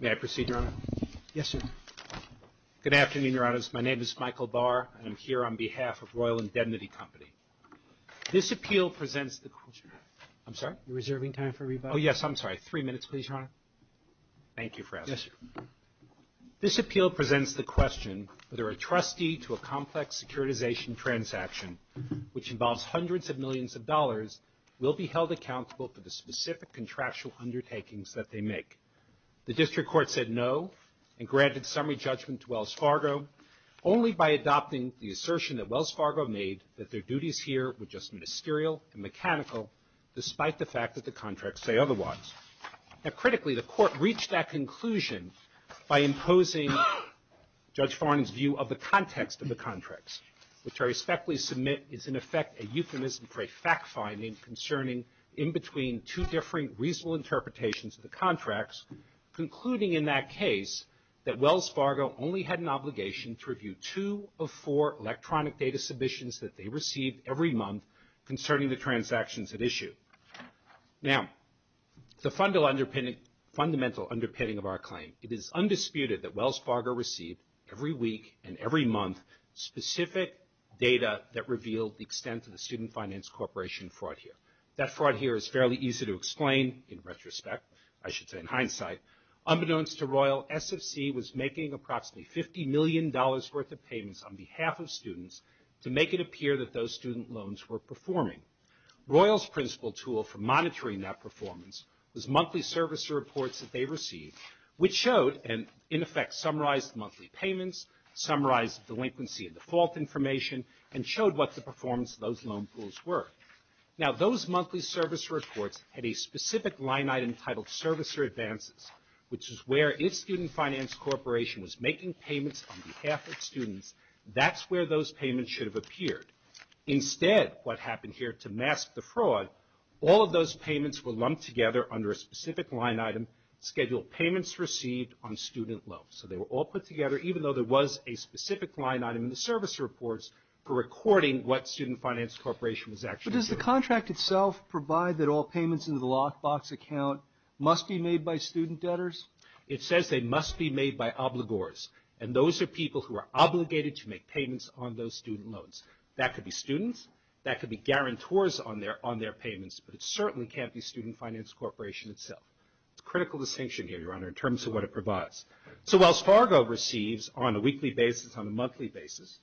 May I proceed, Your Honour? Yes, sir. Good afternoon, Your Honours. My name is Michael Barr, and I'm here on behalf of Royal Indemnity Company. This appeal presents the... I'm sorry? You're reserving time for rebuttal? Oh, yes, I'm sorry. Three minutes, please, Your Honour. Thank you for asking. Yes, sir. This appeal presents the question whether a trustee to a complex securitization transaction, which involves hundreds of millions of dollars, will be held accountable for the specific contractual undertakings that they make. The District Court said no and granted summary judgment to Wells Fargo only by adopting the assertion that Wells Fargo made that their say otherwise. Now, critically, the Court reached that conclusion by imposing Judge Farnon's view of the context of the contracts, which I respectfully submit is, in effect, a euphemism for a fact-finding concerning in between two different reasonable interpretations of the contracts, concluding in that case that Wells Fargo only had an obligation to review two of four electronic data submissions that they received every month concerning the transactions at issue. Now, the fundamental underpinning of our claim, it is undisputed that Wells Fargo received every week and every month specific data that revealed the extent of the Student Finance Corporation fraud here. That fraud here is fairly easy to explain in retrospect, I should say in hindsight. Unbeknownst to Royal, SFC was making approximately $50 million worth of payments on behalf of students to make it appear that those student finances were performing. Royal's principal tool for monitoring that performance was monthly servicer reports that they received, which showed and in effect summarized monthly payments, summarized delinquency and default information, and showed what the performance of those loan pools were. Now, those monthly servicer reports had a specific line item titled servicer advances, which is where if Student Finance Corporation was making payments on behalf of students, that's where those payments should have appeared. Instead, what happened here to mask the fraud, all of those payments were lumped together under a specific line item, scheduled payments received on student loans. So they were all put together, even though there was a specific line item in the servicer reports for recording what Student Finance Corporation was actually doing. But does the contract itself provide that all payments into the lockbox account must be made by student debtors? It says they must be made by obligors, and those are people who are obligated to make payments on those student loans. That could be students, that could be guarantors on their payments, but it certainly can't be Student Finance Corporation itself. It's a critical distinction here, Your Honor, in terms of what it provides. So whilst Fargo receives on a weekly basis, on a monthly basis,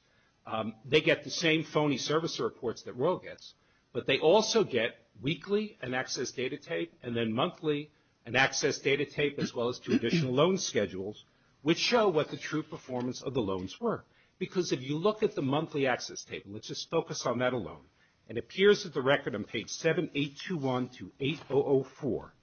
they get the same phony servicer reports that Royal gets, but they also get weekly an access data tape, and then monthly an access data tape, as well as two additional loan schedules, which show what the true performance of the loans were. Because if you look at the monthly access tape, and let's just focus on that alone, it appears that the record on page 7821 to 8004,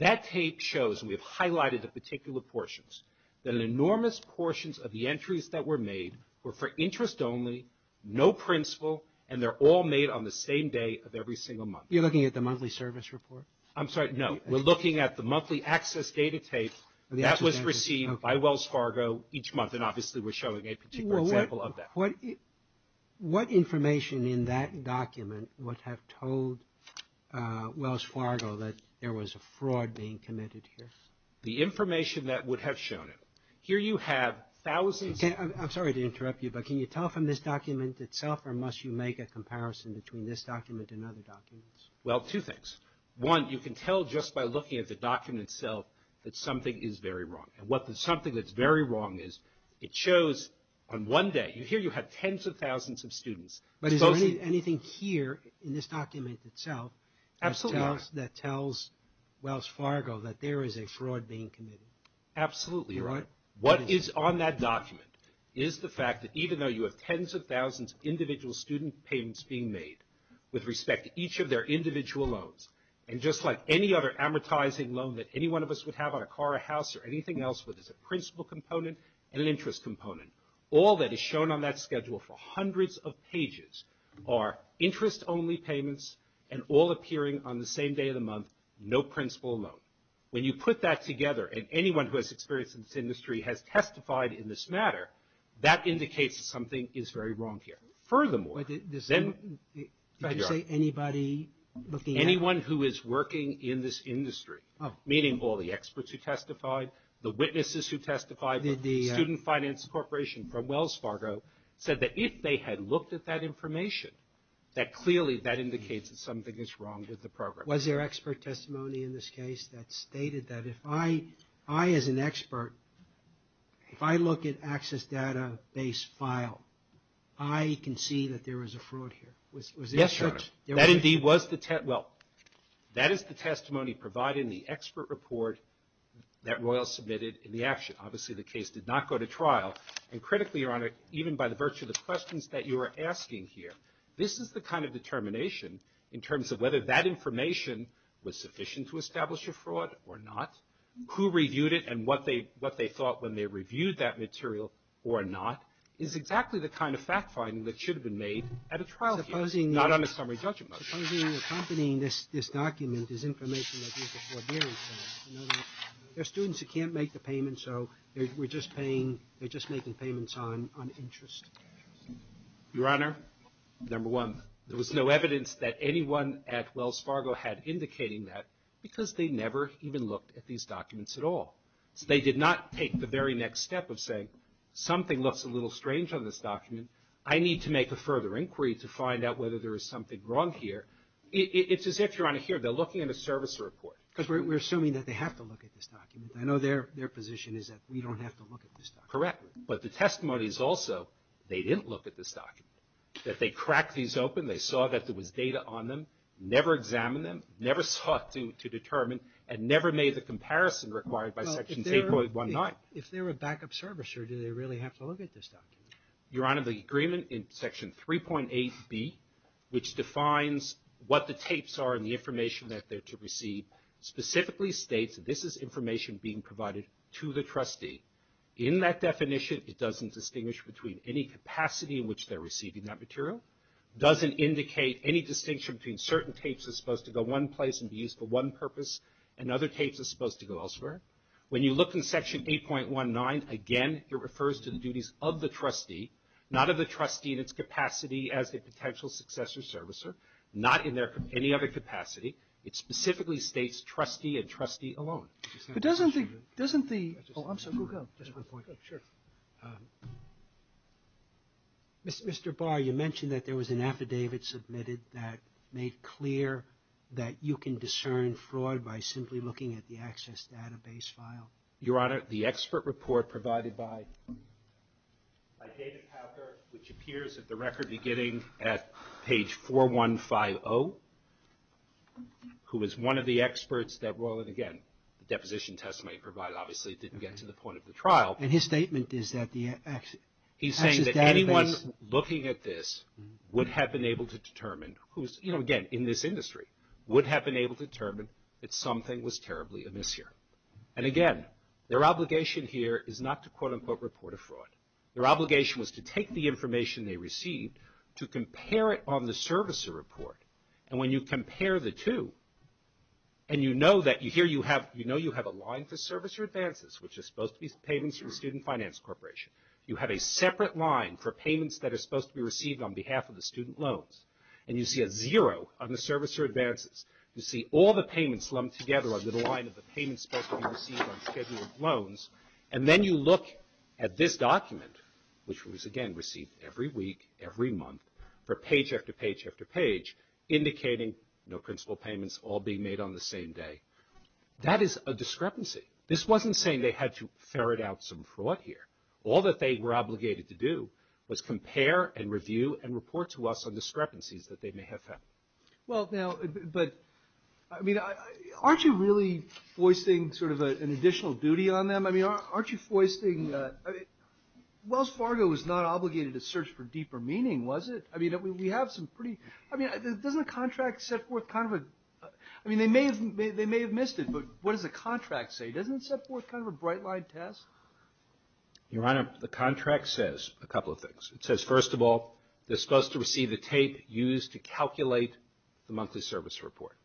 that tape shows, and we've highlighted the particular portions, that enormous portions of the entries that were made were for interest only, no principal, and they're all made on the same day of every single month. You're looking at the monthly service report? I'm sorry, no. We're looking at the monthly access data tape that was received by Wells Fargo each month, and obviously we're showing a particular example of that. What information in that document would have told Wells Fargo that there was a fraud being committed here? The information that would have shown it. Here you have thousands of... I'm sorry to interrupt you, but can you tell from this document itself, or must you make a comparison between this document and other documents? Well, two things. One, you can tell just by looking at the document itself that something is very wrong. And what the something that's very wrong is, it shows on one day, here you have tens of thousands of students. But is there anything here in this document itself that tells Wells Fargo that there is a fraud being committed? Absolutely. You're right. What is on that document is the fact that even though you have tens of thousands of individual student payments being made with respect to each of their individual loans, and just like any other amortizing loan that any one of us would have on a car, a house, or anything else that is a principal component and an interest component, all that is shown on that schedule for hundreds of pages are interest only payments and all appearing on the same day of the month, no principal alone. When you put that together and anyone who has experience in this industry has testified in this matter, that indicates that something is very wrong here. Furthermore, anyone who is working in this industry, meaning all the experts who testified, the witnesses who testified, the Student Finance Corporation from Wells Fargo, said that if they had looked at that information, that clearly that indicates that something is wrong with the program. Was there expert testimony in this case that stated that if I, as an expert, if I look at access data base file, I can see that there was a fraud here? Yes, Your Honor. That indeed was the test. Well, that is the testimony provided in the expert report that Royal submitted in the action. Obviously, the case did not go to trial. And critically, Your Honor, even by the virtue of the questions that you are asking here, this is the kind of determination in terms of whether that information was sufficient to establish a fraud or not, who reviewed it and what they thought when they reviewed that material or not, is exactly the kind of fact-finding that should have been made at a trial here, not on a summary judgment. Supposing accompanying this document is information like you said, there are students who can't make the payment, so they're just making payments on interest. Your Honor, number one, there was no evidence that anyone at Wells Fargo had indicating that because they never even looked at these documents at all. They did not take the very next step of saying something looks a little strange on this document. I need to make a further inquiry to find out whether there is something wrong here. It's as if, Your Honor, here they're looking at a service report. Because we're assuming that they have to look at this document. I know their position is that we don't have to look at this document. Correct. But the testimony is also they didn't look at this document, that they cracked these open, they saw that there was data on them, never examined them, never sought to determine and never made the comparison required by Section 8.19. If they were a backup servicer, do they really have to look at this document? Your Honor, the agreement in Section 3.8b, which defines what the tapes are and the information that they're to receive, specifically states that this is information being provided to the trustee. In that definition, it doesn't distinguish between any capacity in which they're receiving that material, doesn't indicate any distinction between certain tapes that are supposed to go one place and be used for one purpose and other tapes that are supposed to go elsewhere. When you look in Section 8.19, again, it refers to the duties of the trustee, not of the trustee in its capacity as a potential successor servicer, not in any other capacity. It specifically states trustee and trustee alone. But doesn't the – oh, I'm sorry. Go ahead. Just one point. Sure. Mr. Barr, you mentioned that there was an affidavit submitted that made clear that you can discern fraud by simply looking at the access database file. Your Honor, the expert report provided by David Hacker, which appears at the record beginning at page 4150, who is one of the experts that, well, and again, the deposition testimony provided obviously didn't get to the point of the trial. And his statement is that the access database. He's saying that anyone looking at this would have been able to determine, who's, you know, again, in this industry, would have been able to determine that something was terribly amiss here. And again, their obligation here is not to quote, unquote, report a fraud. Their obligation was to take the information they received, to compare it on the servicer report. And when you compare the two, and you know that here you have – you know you have a line for servicer advances, which are supposed to be payments from the Student Finance Corporation. You have a separate line for payments that are supposed to be received on behalf of the student loans. And you see a zero on the servicer advances. You see all the payments lumped together under the line of the payments supposed to be received on schedule of loans. And then you look at this document, which was, again, received every week, every month, for page after page after page, indicating no principal payments all being made on the same day. That is a discrepancy. This wasn't saying they had to ferret out some fraud here. All that they were obligated to do was compare and review and report to us on discrepancies that they may have found. Well, now, but I mean, aren't you really foisting sort of an additional duty on them? I mean, aren't you foisting – Wells Fargo was not obligated to search for deeper meaning, was it? I mean, we have some pretty – I mean, doesn't a contract set forth kind of a – I mean, they may have missed it, but what does the contract say? Doesn't it set forth kind of a bright-line test? Your Honor, the contract says a couple of things. It says, first of all, they're supposed to receive the tape used to calculate the monthly service report.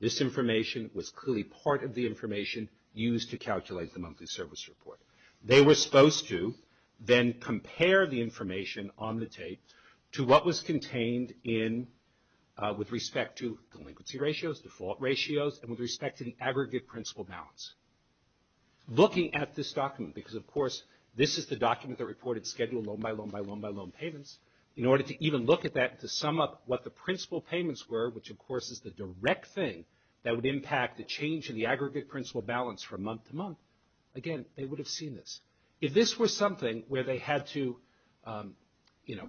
This information was clearly part of the information used to calculate the monthly service report. They were supposed to then compare the information on the tape to what was contained in – with respect to delinquency ratios, default ratios, and with respect to the aggregate principal balance. Looking at this document, because, of course, this is the document that reported scheduled loan-by-loan-by-loan-by-loan payments, in order to even look at that to sum up what the principal payments were, which, of course, is the direct thing that would impact the change in the aggregate principal balance from month to month, again, they would have seen this. If this was something where they had to, you know,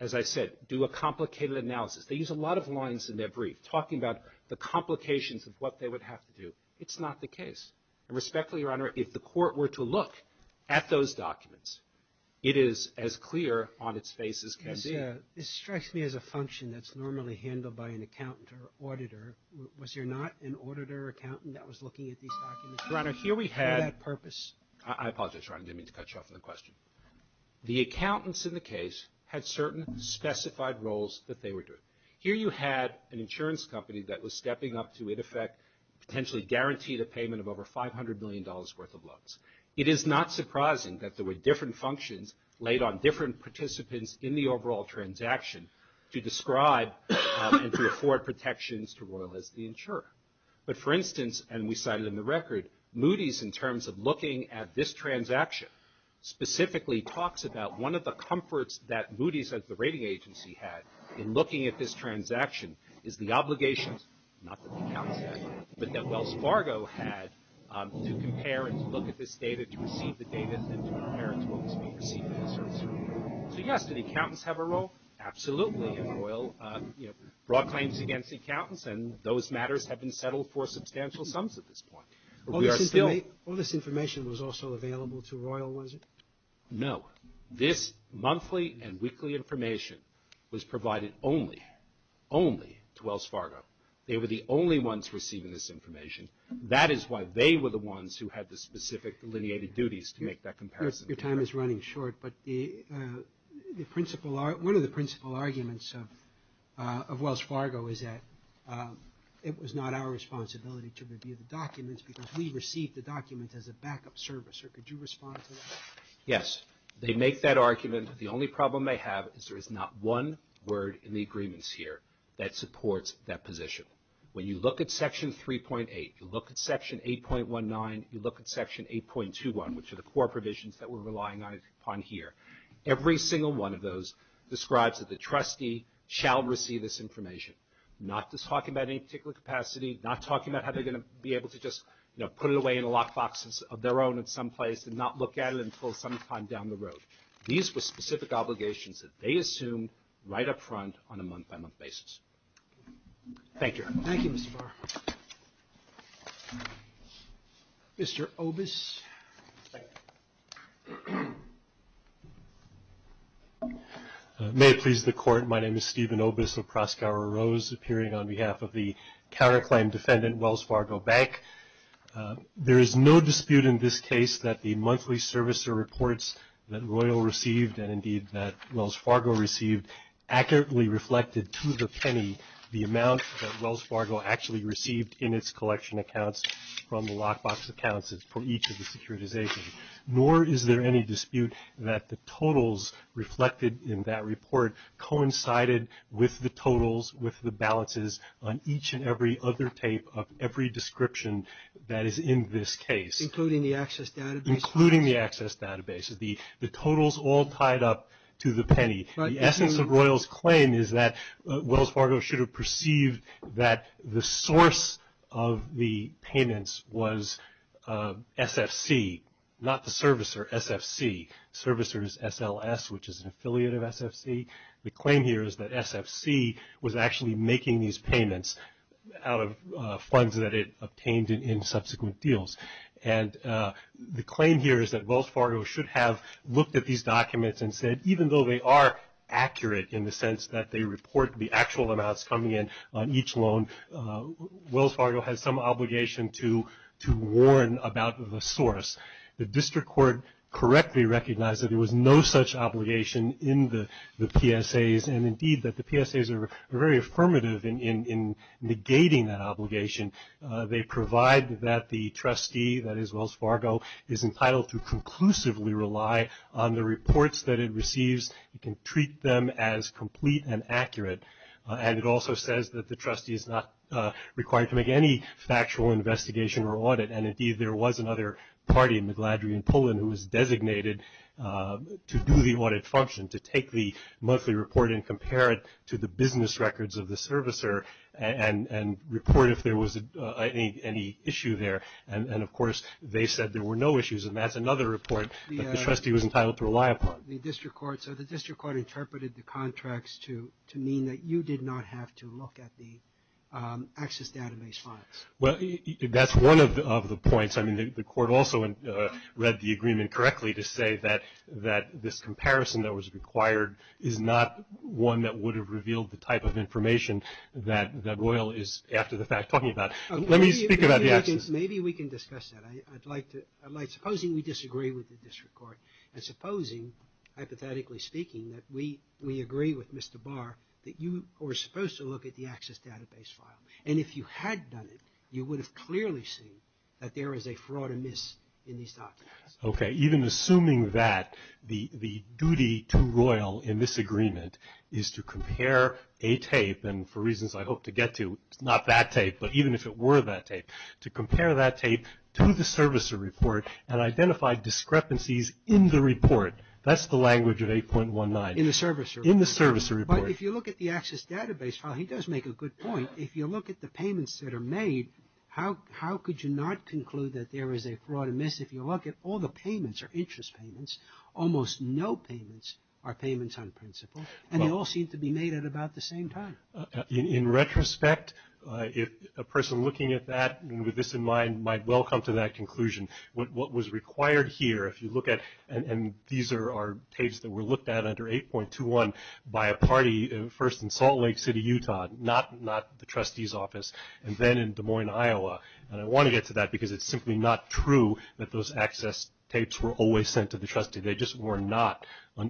as I said, do a complicated analysis. They use a lot of lines in their brief talking about the complications of what they would have to do. It's not the case. And respectfully, Your Honor, if the court were to look at those documents, it is as clear on its face as can be. This strikes me as a function that's normally handled by an accountant or auditor. Was there not an auditor or accountant that was looking at these documents? Your Honor, here we had... For that purpose. I apologize, Your Honor. Didn't mean to cut you off from the question. The accountants in the case had certain specified roles that they were doing. Here you had an insurance company that was stepping up to, in effect, potentially guarantee the payment of over $500 million worth of loans. It is not surprising that there were different functions laid on different participants in the overall transaction to describe and to afford protections to Royal as the insurer. But, for instance, and we cited in the record, Moody's in terms of looking at this transaction specifically talks about one of the comforts that Moody's as the rating agency had in looking at this transaction is the obligations, not that the accountants had, but that Wells Fargo had to compare and to look at this data to receive the data and to compare it to what was being received by the insurance company. So, yes, did the accountants have a role? Absolutely. You know, broad claims against accountants, and those matters have been settled for substantial sums at this point. All this information was also available to Royal, was it? No. This monthly and weekly information was provided only, only to Wells Fargo. They were the only ones receiving this information. That is why they were the ones who had the specific delineated duties to make that comparison. Your time is running short, but one of the principal arguments of Wells Fargo is that it was not our responsibility to review the documents because we received the documents as a backup service. Could you respond to that? Yes. They make that argument. The only problem they have is there is not one word in the agreements here that supports that position. When you look at Section 3.8, you look at Section 8.19, you look at Section 8.21, which are the core provisions that we're relying on here. Every single one of those describes that the trustee shall receive this information, not just talking about any particular capacity, not talking about how they're going to be able to just, you know, put it away in a lockbox of their own in some place and not look at it until sometime down the road. These were specific obligations that they assumed right up front on a month-by-month basis. Thank you. Thank you, Mr. Barr. Mr. Obis. May it please the Court, my name is Stephen Obis of Proskauer Rose, appearing on behalf of the counterclaim defendant, Wells Fargo Bank. There is no dispute in this case that the monthly servicer reports that Royal received and indeed that Wells Fargo received accurately reflected to the penny the amount that the bank received in its collection accounts from the lockbox accounts for each of the securitizations. Nor is there any dispute that the totals reflected in that report coincided with the totals, with the balances on each and every other tape of every description that is in this case. Including the access database? Including the access database. The totals all tied up to the penny. The essence of Royal's claim is that Wells Fargo should have perceived that the source of the payments was SFC, not the servicer, SFC. Servicer is SLS, which is an affiliate of SFC. The claim here is that SFC was actually making these payments out of funds that it obtained in subsequent deals. And the claim here is that Wells Fargo should have looked at these documents and said even though they are accurate in the sense that they report the actual amounts coming in on each loan, Wells Fargo has some obligation to warn about the source. The district court correctly recognized that there was no such obligation in the PSAs and indeed that the PSAs are very affirmative in negating that obligation. They provide that the trustee, that is Wells Fargo, is entitled to conclusively rely on the reports that it receives. It can treat them as complete and accurate. And it also says that the trustee is not required to make any factual investigation or audit, and indeed there was another party, Magladry and Pullen, who was designated to do the audit function, to take the monthly report and compare it to the business records of the servicer and report if there was any issue there. And, of course, they said there were no issues. And that's another report that the trustee was entitled to rely upon. So the district court interpreted the contracts to mean that you did not have to look at the access database files. Well, that's one of the points. I mean, the court also read the agreement correctly to say that this comparison that was required is not one that would have revealed the type of information that Royal is, after the fact, talking about. Let me speak about the access. Maybe we can discuss that. I'd like to. Supposing we disagree with the district court and supposing, hypothetically speaking, that we agree with Mr. Barr that you were supposed to look at the access database file. And if you had done it, you would have clearly seen that there is a fraud amiss in these documents. Okay. Even assuming that, the duty to Royal in this agreement is to compare a tape, and for reasons I hope to get to, it's not that tape, but even if it were that tape, to compare that tape to the servicer report and identify discrepancies in the report. That's the language of 8.19. In the servicer report. In the servicer report. But if you look at the access database file, he does make a good point. If you look at the payments that are made, how could you not conclude that there is a fraud amiss? If you look at all the payments or interest payments, almost no payments are payments on principle, and they all seem to be made at about the same time. In retrospect, a person looking at that with this in mind might well come to that conclusion. What was required here, if you look at, and these are tapes that were looked at under 8.21 by a party, first in Salt Lake City, Utah, not the trustee's office, and then in Des Moines, Iowa, and I want to get to that because it's simply not true that those access tapes were always sent to the trustee. They just were not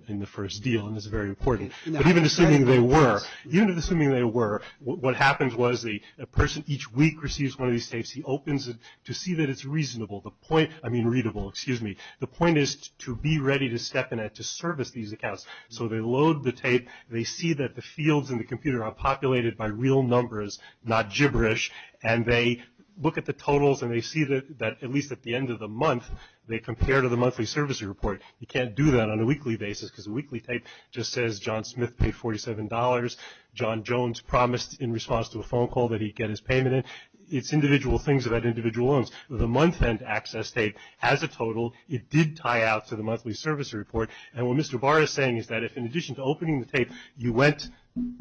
in the first deal, and this is very important. But even assuming they were, even assuming they were, what happens was the person each week receives one of these tapes. He opens it to see that it's reasonable. The point, I mean readable, excuse me. The point is to be ready to step in and to service these accounts. So they load the tape. They see that the fields in the computer are populated by real numbers, not gibberish, and they look at the totals and they see that at least at the end of the month they compare to the monthly service report. You can't do that on a weekly basis because a weekly tape just says John Smith paid $47. John Jones promised in response to a phone call that he'd get his payment in. It's individual things about individual loans. The month-end access tape has a total. It did tie out to the monthly service report. And what Mr. Barr is saying is that if in addition to opening the tape you went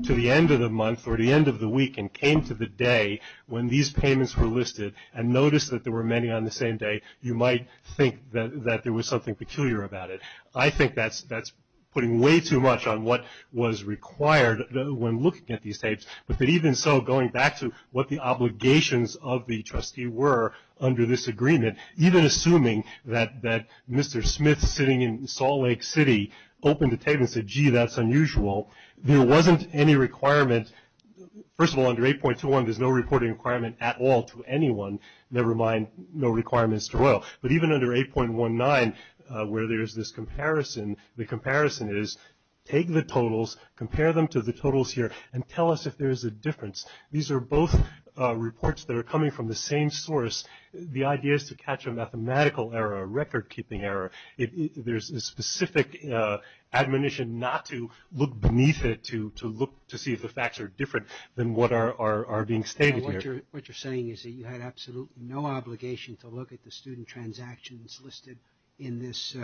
to the end of the month or the end of the week and came to the day when these payments were listed and noticed that there were many on the same day, you might think that there was something peculiar about it. I think that's putting way too much on what was required when looking at these tapes. But even so, going back to what the obligations of the trustee were under this agreement, even assuming that Mr. Smith sitting in Salt Lake City opened the tape and said, gee, that's unusual, there wasn't any requirement. First of all, under 8.21 there's no reporting requirement at all to anyone, never mind no requirements to Royal. But even under 8.19 where there's this comparison, the comparison is take the totals, compare them to the totals here, and tell us if there's a difference. These are both reports that are coming from the same source. The idea is to catch a mathematical error, a record-keeping error. There's a specific admonition not to look beneath it to look to see if the facts are different than what are being stated here. What you're saying is that you had absolutely no obligation to look at the student transactions listed in this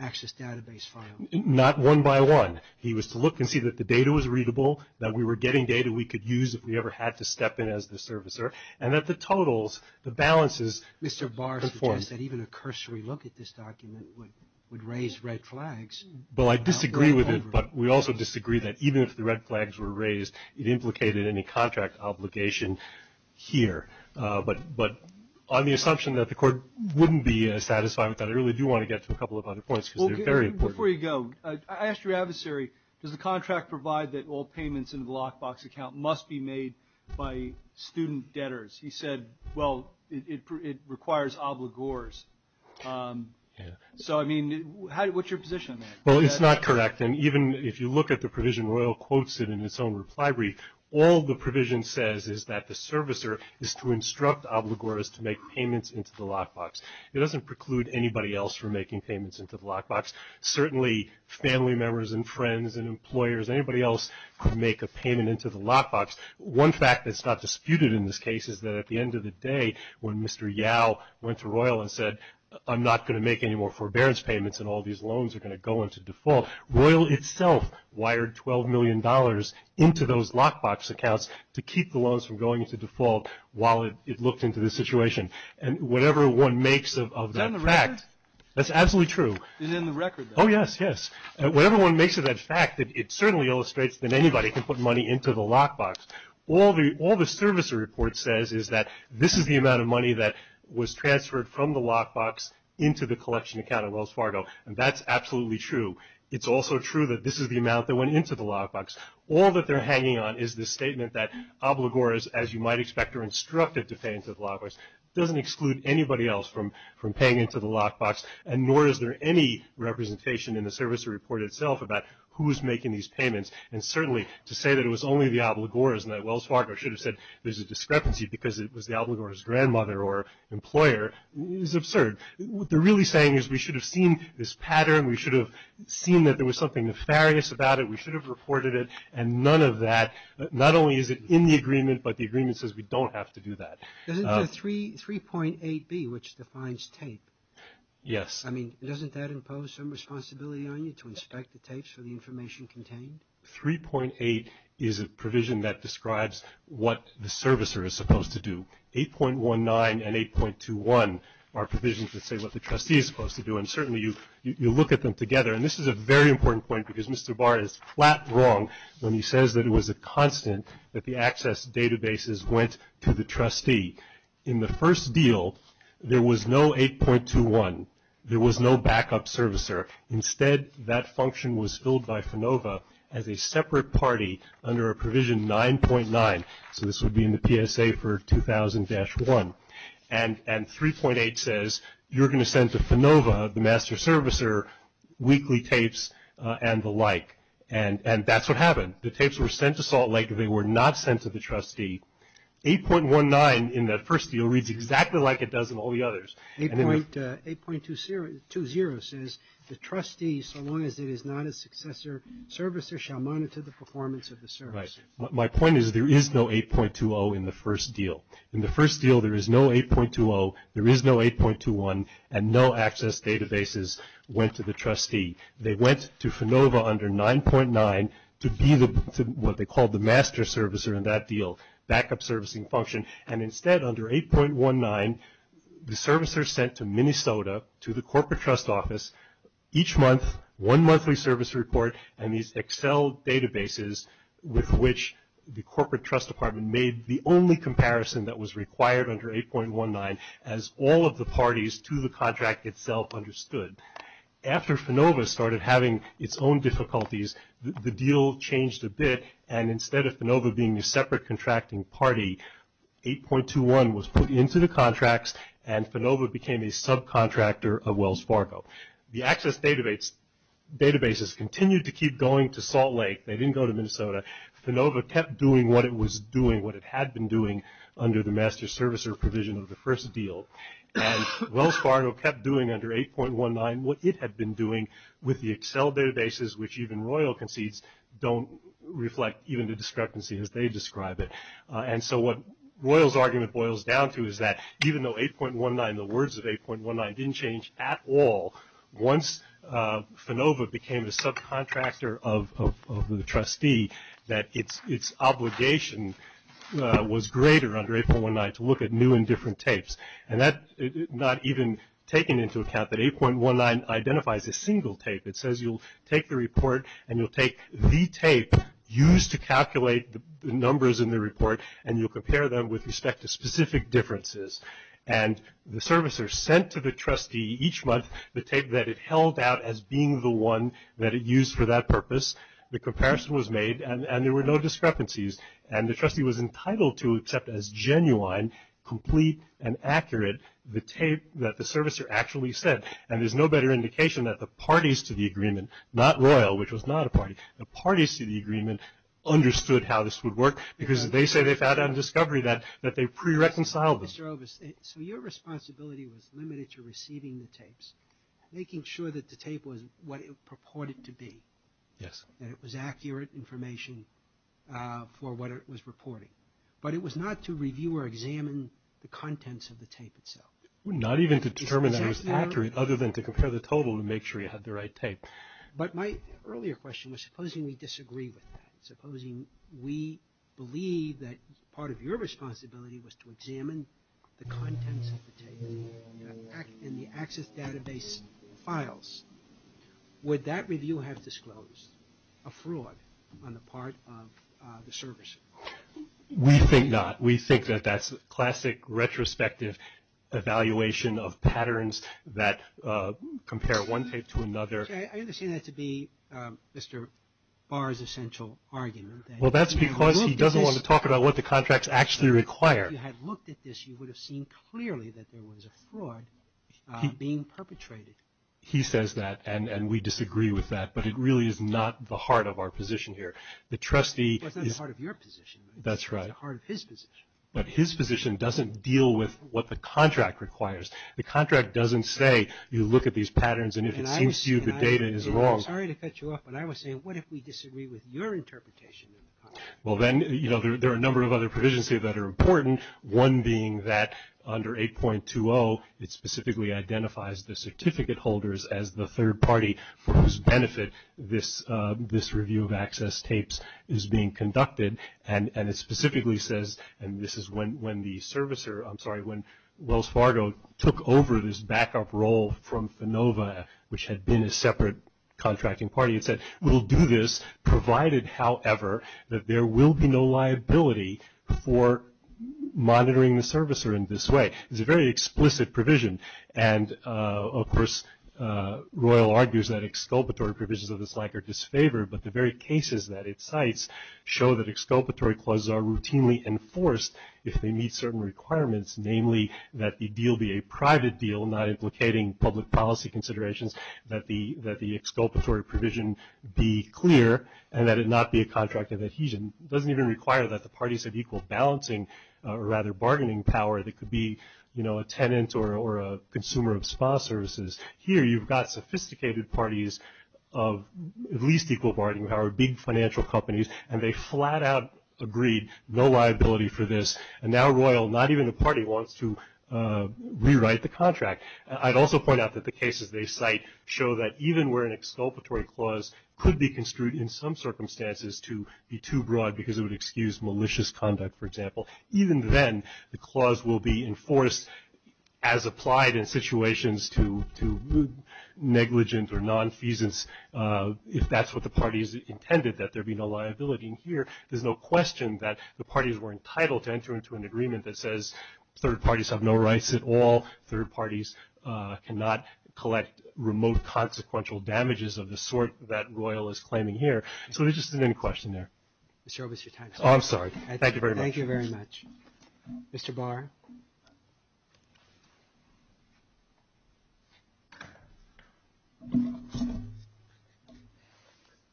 access database file. Not one by one. He was to look and see that the data was readable, that we were getting data we could use if we ever had to step in as the servicer, and that the totals, the balances. Mr. Barr suggests that even a cursory look at this document would raise red flags. Well, I disagree with it, but we also disagree that even if the red flags were raised, it implicated any contract obligation here. But on the assumption that the Court wouldn't be as satisfied with that, I really do want to get to a couple of other points because they're very important. Before you go, I asked your adversary, does the contract provide that all payments into the lockbox account must be made by student debtors? He said, well, it requires obligors. So, I mean, what's your position on that? Well, it's not correct. And even if you look at the provision, Royal quotes it in its own reply brief. All the provision says is that the servicer is to instruct obligors to make payments into the lockbox. It doesn't preclude anybody else from making payments into the lockbox. Certainly family members and friends and employers, anybody else could make a payment into the lockbox. One fact that's not disputed in this case is that at the end of the day, when Mr. Yao went to Royal and said, I'm not going to make any more forbearance payments and all these loans are going to go into default, Royal itself wired $12 million into those lockbox accounts to keep the loans from going into default while it looked into the situation. And whatever one makes of that fact, that's absolutely true. And in the record, though. Oh, yes, yes. Whatever one makes of that fact, it certainly illustrates that anybody can put money into the lockbox. All the servicer report says is that this is the amount of money that was transferred from the lockbox into the collection account of Wells Fargo. And that's absolutely true. It's also true that this is the amount that went into the lockbox. All that they're hanging on is the statement that obligors, as you might expect, are instructed to pay into the lockbox. It doesn't exclude anybody else from paying into the lockbox. And nor is there any representation in the servicer report itself about who is making these payments. And certainly to say that it was only the obligors and that Wells Fargo should have said there's a discrepancy because it was the obligors' grandmother or employer is absurd. What they're really saying is we should have seen this pattern. We should have seen that there was something nefarious about it. We should have reported it. And none of that, not only is it in the agreement, but the agreement says we don't have to do that. Doesn't the 3.8b, which defines tape, I mean, doesn't that impose some responsibility on you to inspect the tapes for the information contained? 3.8 is a provision that describes what the servicer is supposed to do. 8.19 and 8.21 are provisions that say what the trustee is supposed to do. And certainly you look at them together. And this is a very important point because Mr. Barr is flat wrong when he says that it was a constant that the access databases went to the trustee. In the first deal, there was no 8.21. There was no backup servicer. Instead, that function was filled by FANOVA as a separate party under a provision 9.9. So this would be in the PSA for 2000-1. And 3.8 says you're going to send to FANOVA, the master servicer, weekly tapes and the like. And that's what happened. The tapes were sent to Salt Lake. They were not sent to the trustee. 8.19 in that first deal reads exactly like it does in all the others. 8.20 says the trustee, so long as it is not a successor servicer, shall monitor the performance of the service. My point is there is no 8.20 in the first deal. In the first deal, there is no 8.20. There is no 8.21. And no access databases went to the trustee. They went to FANOVA under 9.9 to be what they called the master servicer in that deal, backup servicing function. And instead, under 8.19, the servicer is sent to Minnesota to the corporate trust office each month, one monthly service report, and these Excel databases with which the corporate trust department made the only comparison that was required under 8.19, as all of the parties to the contract itself understood. After FANOVA started having its own difficulties, the deal changed a bit, and instead of FANOVA being a separate contracting party, 8.21 was put into the contracts, and FANOVA became a subcontractor of Wells Fargo. The access databases continued to keep going to Salt Lake. They didn't go to Minnesota. FANOVA kept doing what it was doing, what it had been doing under the master servicer provision of the first deal, and Wells Fargo kept doing under 8.19 what it had been doing with the Excel databases, which even Royal concedes don't reflect even the discrepancy as they describe it. And so what Royal's argument boils down to is that even though 8.19, the words of 8.19 didn't change at all, once FANOVA became a subcontractor of the trustee, that its obligation was greater under 8.19 to look at new and different tapes. And that's not even taking into account that 8.19 identifies a single tape. It says you'll take the report, and you'll take the tape used to calculate the numbers in the report, and you'll compare them with respect to specific differences. And the servicer sent to the trustee each month the tape that it held out as being the one that it used for that purpose. The comparison was made, and there were no discrepancies. And the trustee was entitled to accept as genuine, complete, and accurate the tape that the servicer actually sent. And there's no better indication that the parties to the agreement, not Royal, which was not a party, the parties to the agreement understood how this would work because they say they found out in discovery that they pre-reconciled. Mr. Ovis, so your responsibility was limited to receiving the tapes, making sure that the tape was what it purported to be. Yes. That it was accurate information for what it was reporting. But it was not to review or examine the contents of the tape itself. Not even to determine that it was accurate other than to compare the total to make sure you had the right tape. But my earlier question was supposing we disagree with that. Supposing we believe that part of your responsibility was to examine the contents of the tape in the access database files. Would that review have disclosed a fraud on the part of the servicer? We think not. We think that that's classic retrospective evaluation of patterns that compare one tape to another. I understand that to be Mr. Barr's essential argument. Well, that's because he doesn't want to talk about what the contracts actually require. If you had looked at this, you would have seen clearly that there was a fraud being perpetrated. He says that and we disagree with that. But it really is not the heart of our position here. The trustee. It's not the heart of your position. That's right. It's the heart of his position. But his position doesn't deal with what the contract requires. The contract doesn't say you look at these patterns and if it seems to you the data is wrong. And I'm sorry to cut you off, but I was saying what if we disagree with your interpretation of the contract? Well, then, you know, there are a number of other provisions here that are important. One being that under 8.20, it specifically identifies the certificate holders as the third party for whose benefit this review of access tapes is being conducted. And it specifically says, and this is when the servicer, I'm sorry, when Wells Fargo took over this backup role from Finova, which had been a separate contracting party, it said we'll do this provided, however, that there will be no liability for monitoring the servicer in this way. It's a very explicit provision. And, of course, Royal argues that exculpatory provisions of this like are disfavored, but the very cases that it cites show that exculpatory clauses are routinely enforced if they meet certain requirements, namely that the deal be a private deal, not implicating public policy considerations, that the exculpatory provision be clear, and that it not be a contract of adhesion. It doesn't even require that the parties have equal balancing or rather bargaining power that could be, you know, a tenant or a consumer of spa services. Here you've got sophisticated parties of at least equal bargaining power, big financial companies, and they flat out agreed no liability for this. And now Royal, not even the party, wants to rewrite the contract. I'd also point out that the cases they cite show that even where an exculpatory clause could be construed in some circumstances to be too broad because it would excuse malicious conduct, for example, even then the clause will be enforced as applied in situations to negligent or nonfeasance if that's what the parties intended, that there be no liability. And here there's no question that the parties were entitled to enter into an agreement that says third parties have no rights at all, third parties cannot collect remote consequential damages of the sort that Royal is claiming here. So there just isn't any question there. Mr. Oberst, your time is up. Oh, I'm sorry. Thank you very much. Thank you very much. Mr. Barr.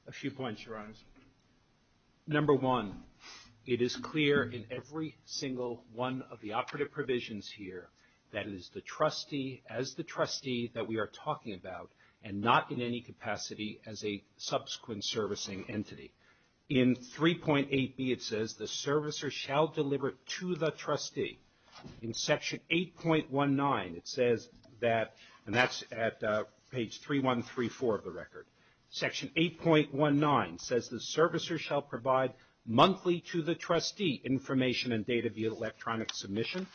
A few points, Your Honors. Number one, it is clear in every single one of the operative provisions here that it is the trustee, as the trustee that we are talking about and not in any capacity as a subsequent servicing entity. In 3.8B it says the servicer shall deliver to the trustee. In Section 8.19 it says that, and that's at page 3134 of the record, Section 8.19 says the servicer shall provide monthly to the trustee information and data via electronic submission,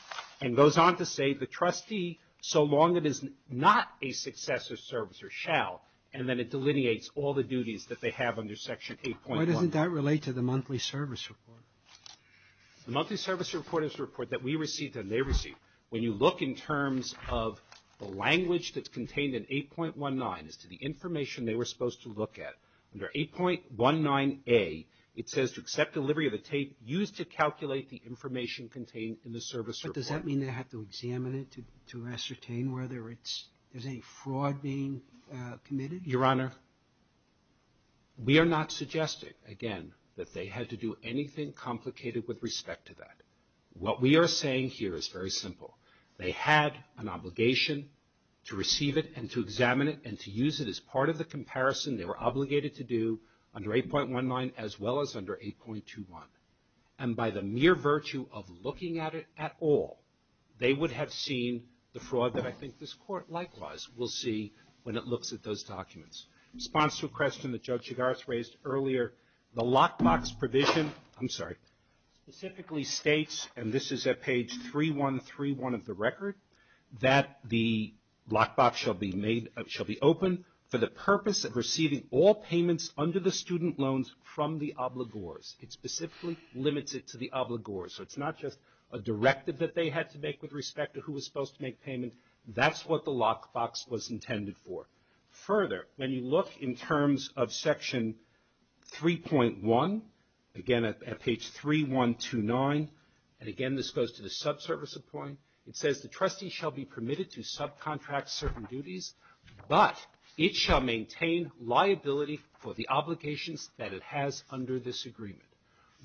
and goes on to say the trustee, so long it is not a successive servicer, shall, and then it delineates all the duties that they have under Section 8.1. Why doesn't that relate to the monthly service report? The monthly service report is a report that we receive and they receive. When you look in terms of the language that's contained in 8.19 as to the information they were supposed to look at, under 8.19A it says to accept delivery of the tape used to calculate the information contained in the service report. But does that mean they have to examine it to ascertain whether there's any fraud being committed? Your Honor, we are not suggesting, again, that they had to do anything complicated with respect to that. What we are saying here is very simple. They had an obligation to receive it and to examine it and to use it as part of the comparison they were obligated to do under 8.19 as well as under 8.21. And by the mere virtue of looking at it at all, they would have seen the fraud that I think this Court likewise will see when it looks at those documents. In response to a question that Joe Chigars raised earlier, the lockbox provision specifically states, and this is at page 3131 of the record, that the lockbox shall be open for the purpose of receiving all payments under the student loans from the obligors. It specifically limits it to the obligors. So it's not just a directive that they had to make with respect to who was supposed to make payment. That's what the lockbox was intended for. Further, when you look in terms of section 3.1, again at page 3129, and again this goes to the subservice appoint, it says the trustee shall be permitted to subcontract certain duties, but it shall maintain liability for the obligations that it has under this agreement.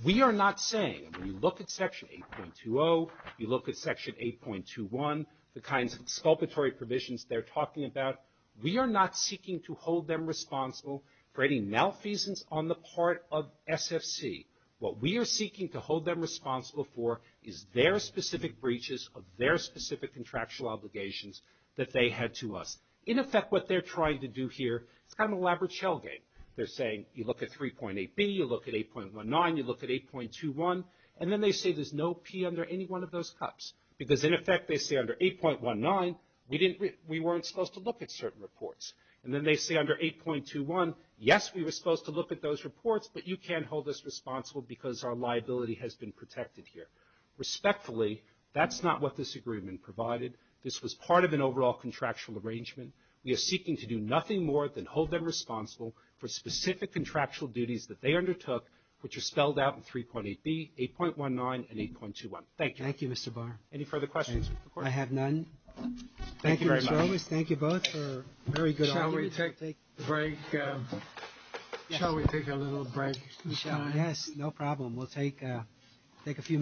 We are not saying, when you look at section 8.20, you look at section 8.21, the kinds of exculpatory provisions they're talking about. We are not seeking to hold them responsible for any malfeasance on the part of SFC. What we are seeking to hold them responsible for is their specific breaches of their specific contractual obligations that they had to us. In effect, what they're trying to do here, it's kind of an elaborate shell game. They're saying, you look at 3.8B, you look at 8.19, you look at 8.21, and then they say there's no P under any one of those cups. Because in effect, they say under 8.19, we weren't supposed to look at certain reports. And then they say under 8.21, yes, we were supposed to look at those reports, but you can't hold us responsible because our liability has been protected here. Respectfully, that's not what this agreement provided. This was part of an overall contractual arrangement. We are seeking to do nothing more than hold them responsible for specific contractual duties that they undertook, which are spelled out in 3.8B, 8.19, and 8.21. Thank you. Thank you, Mr. Barr. Any further questions? I have none. Thank you very much. Thank you both for a very good argument. Shall we take a little break? Yes, no problem. We'll take a few minutes.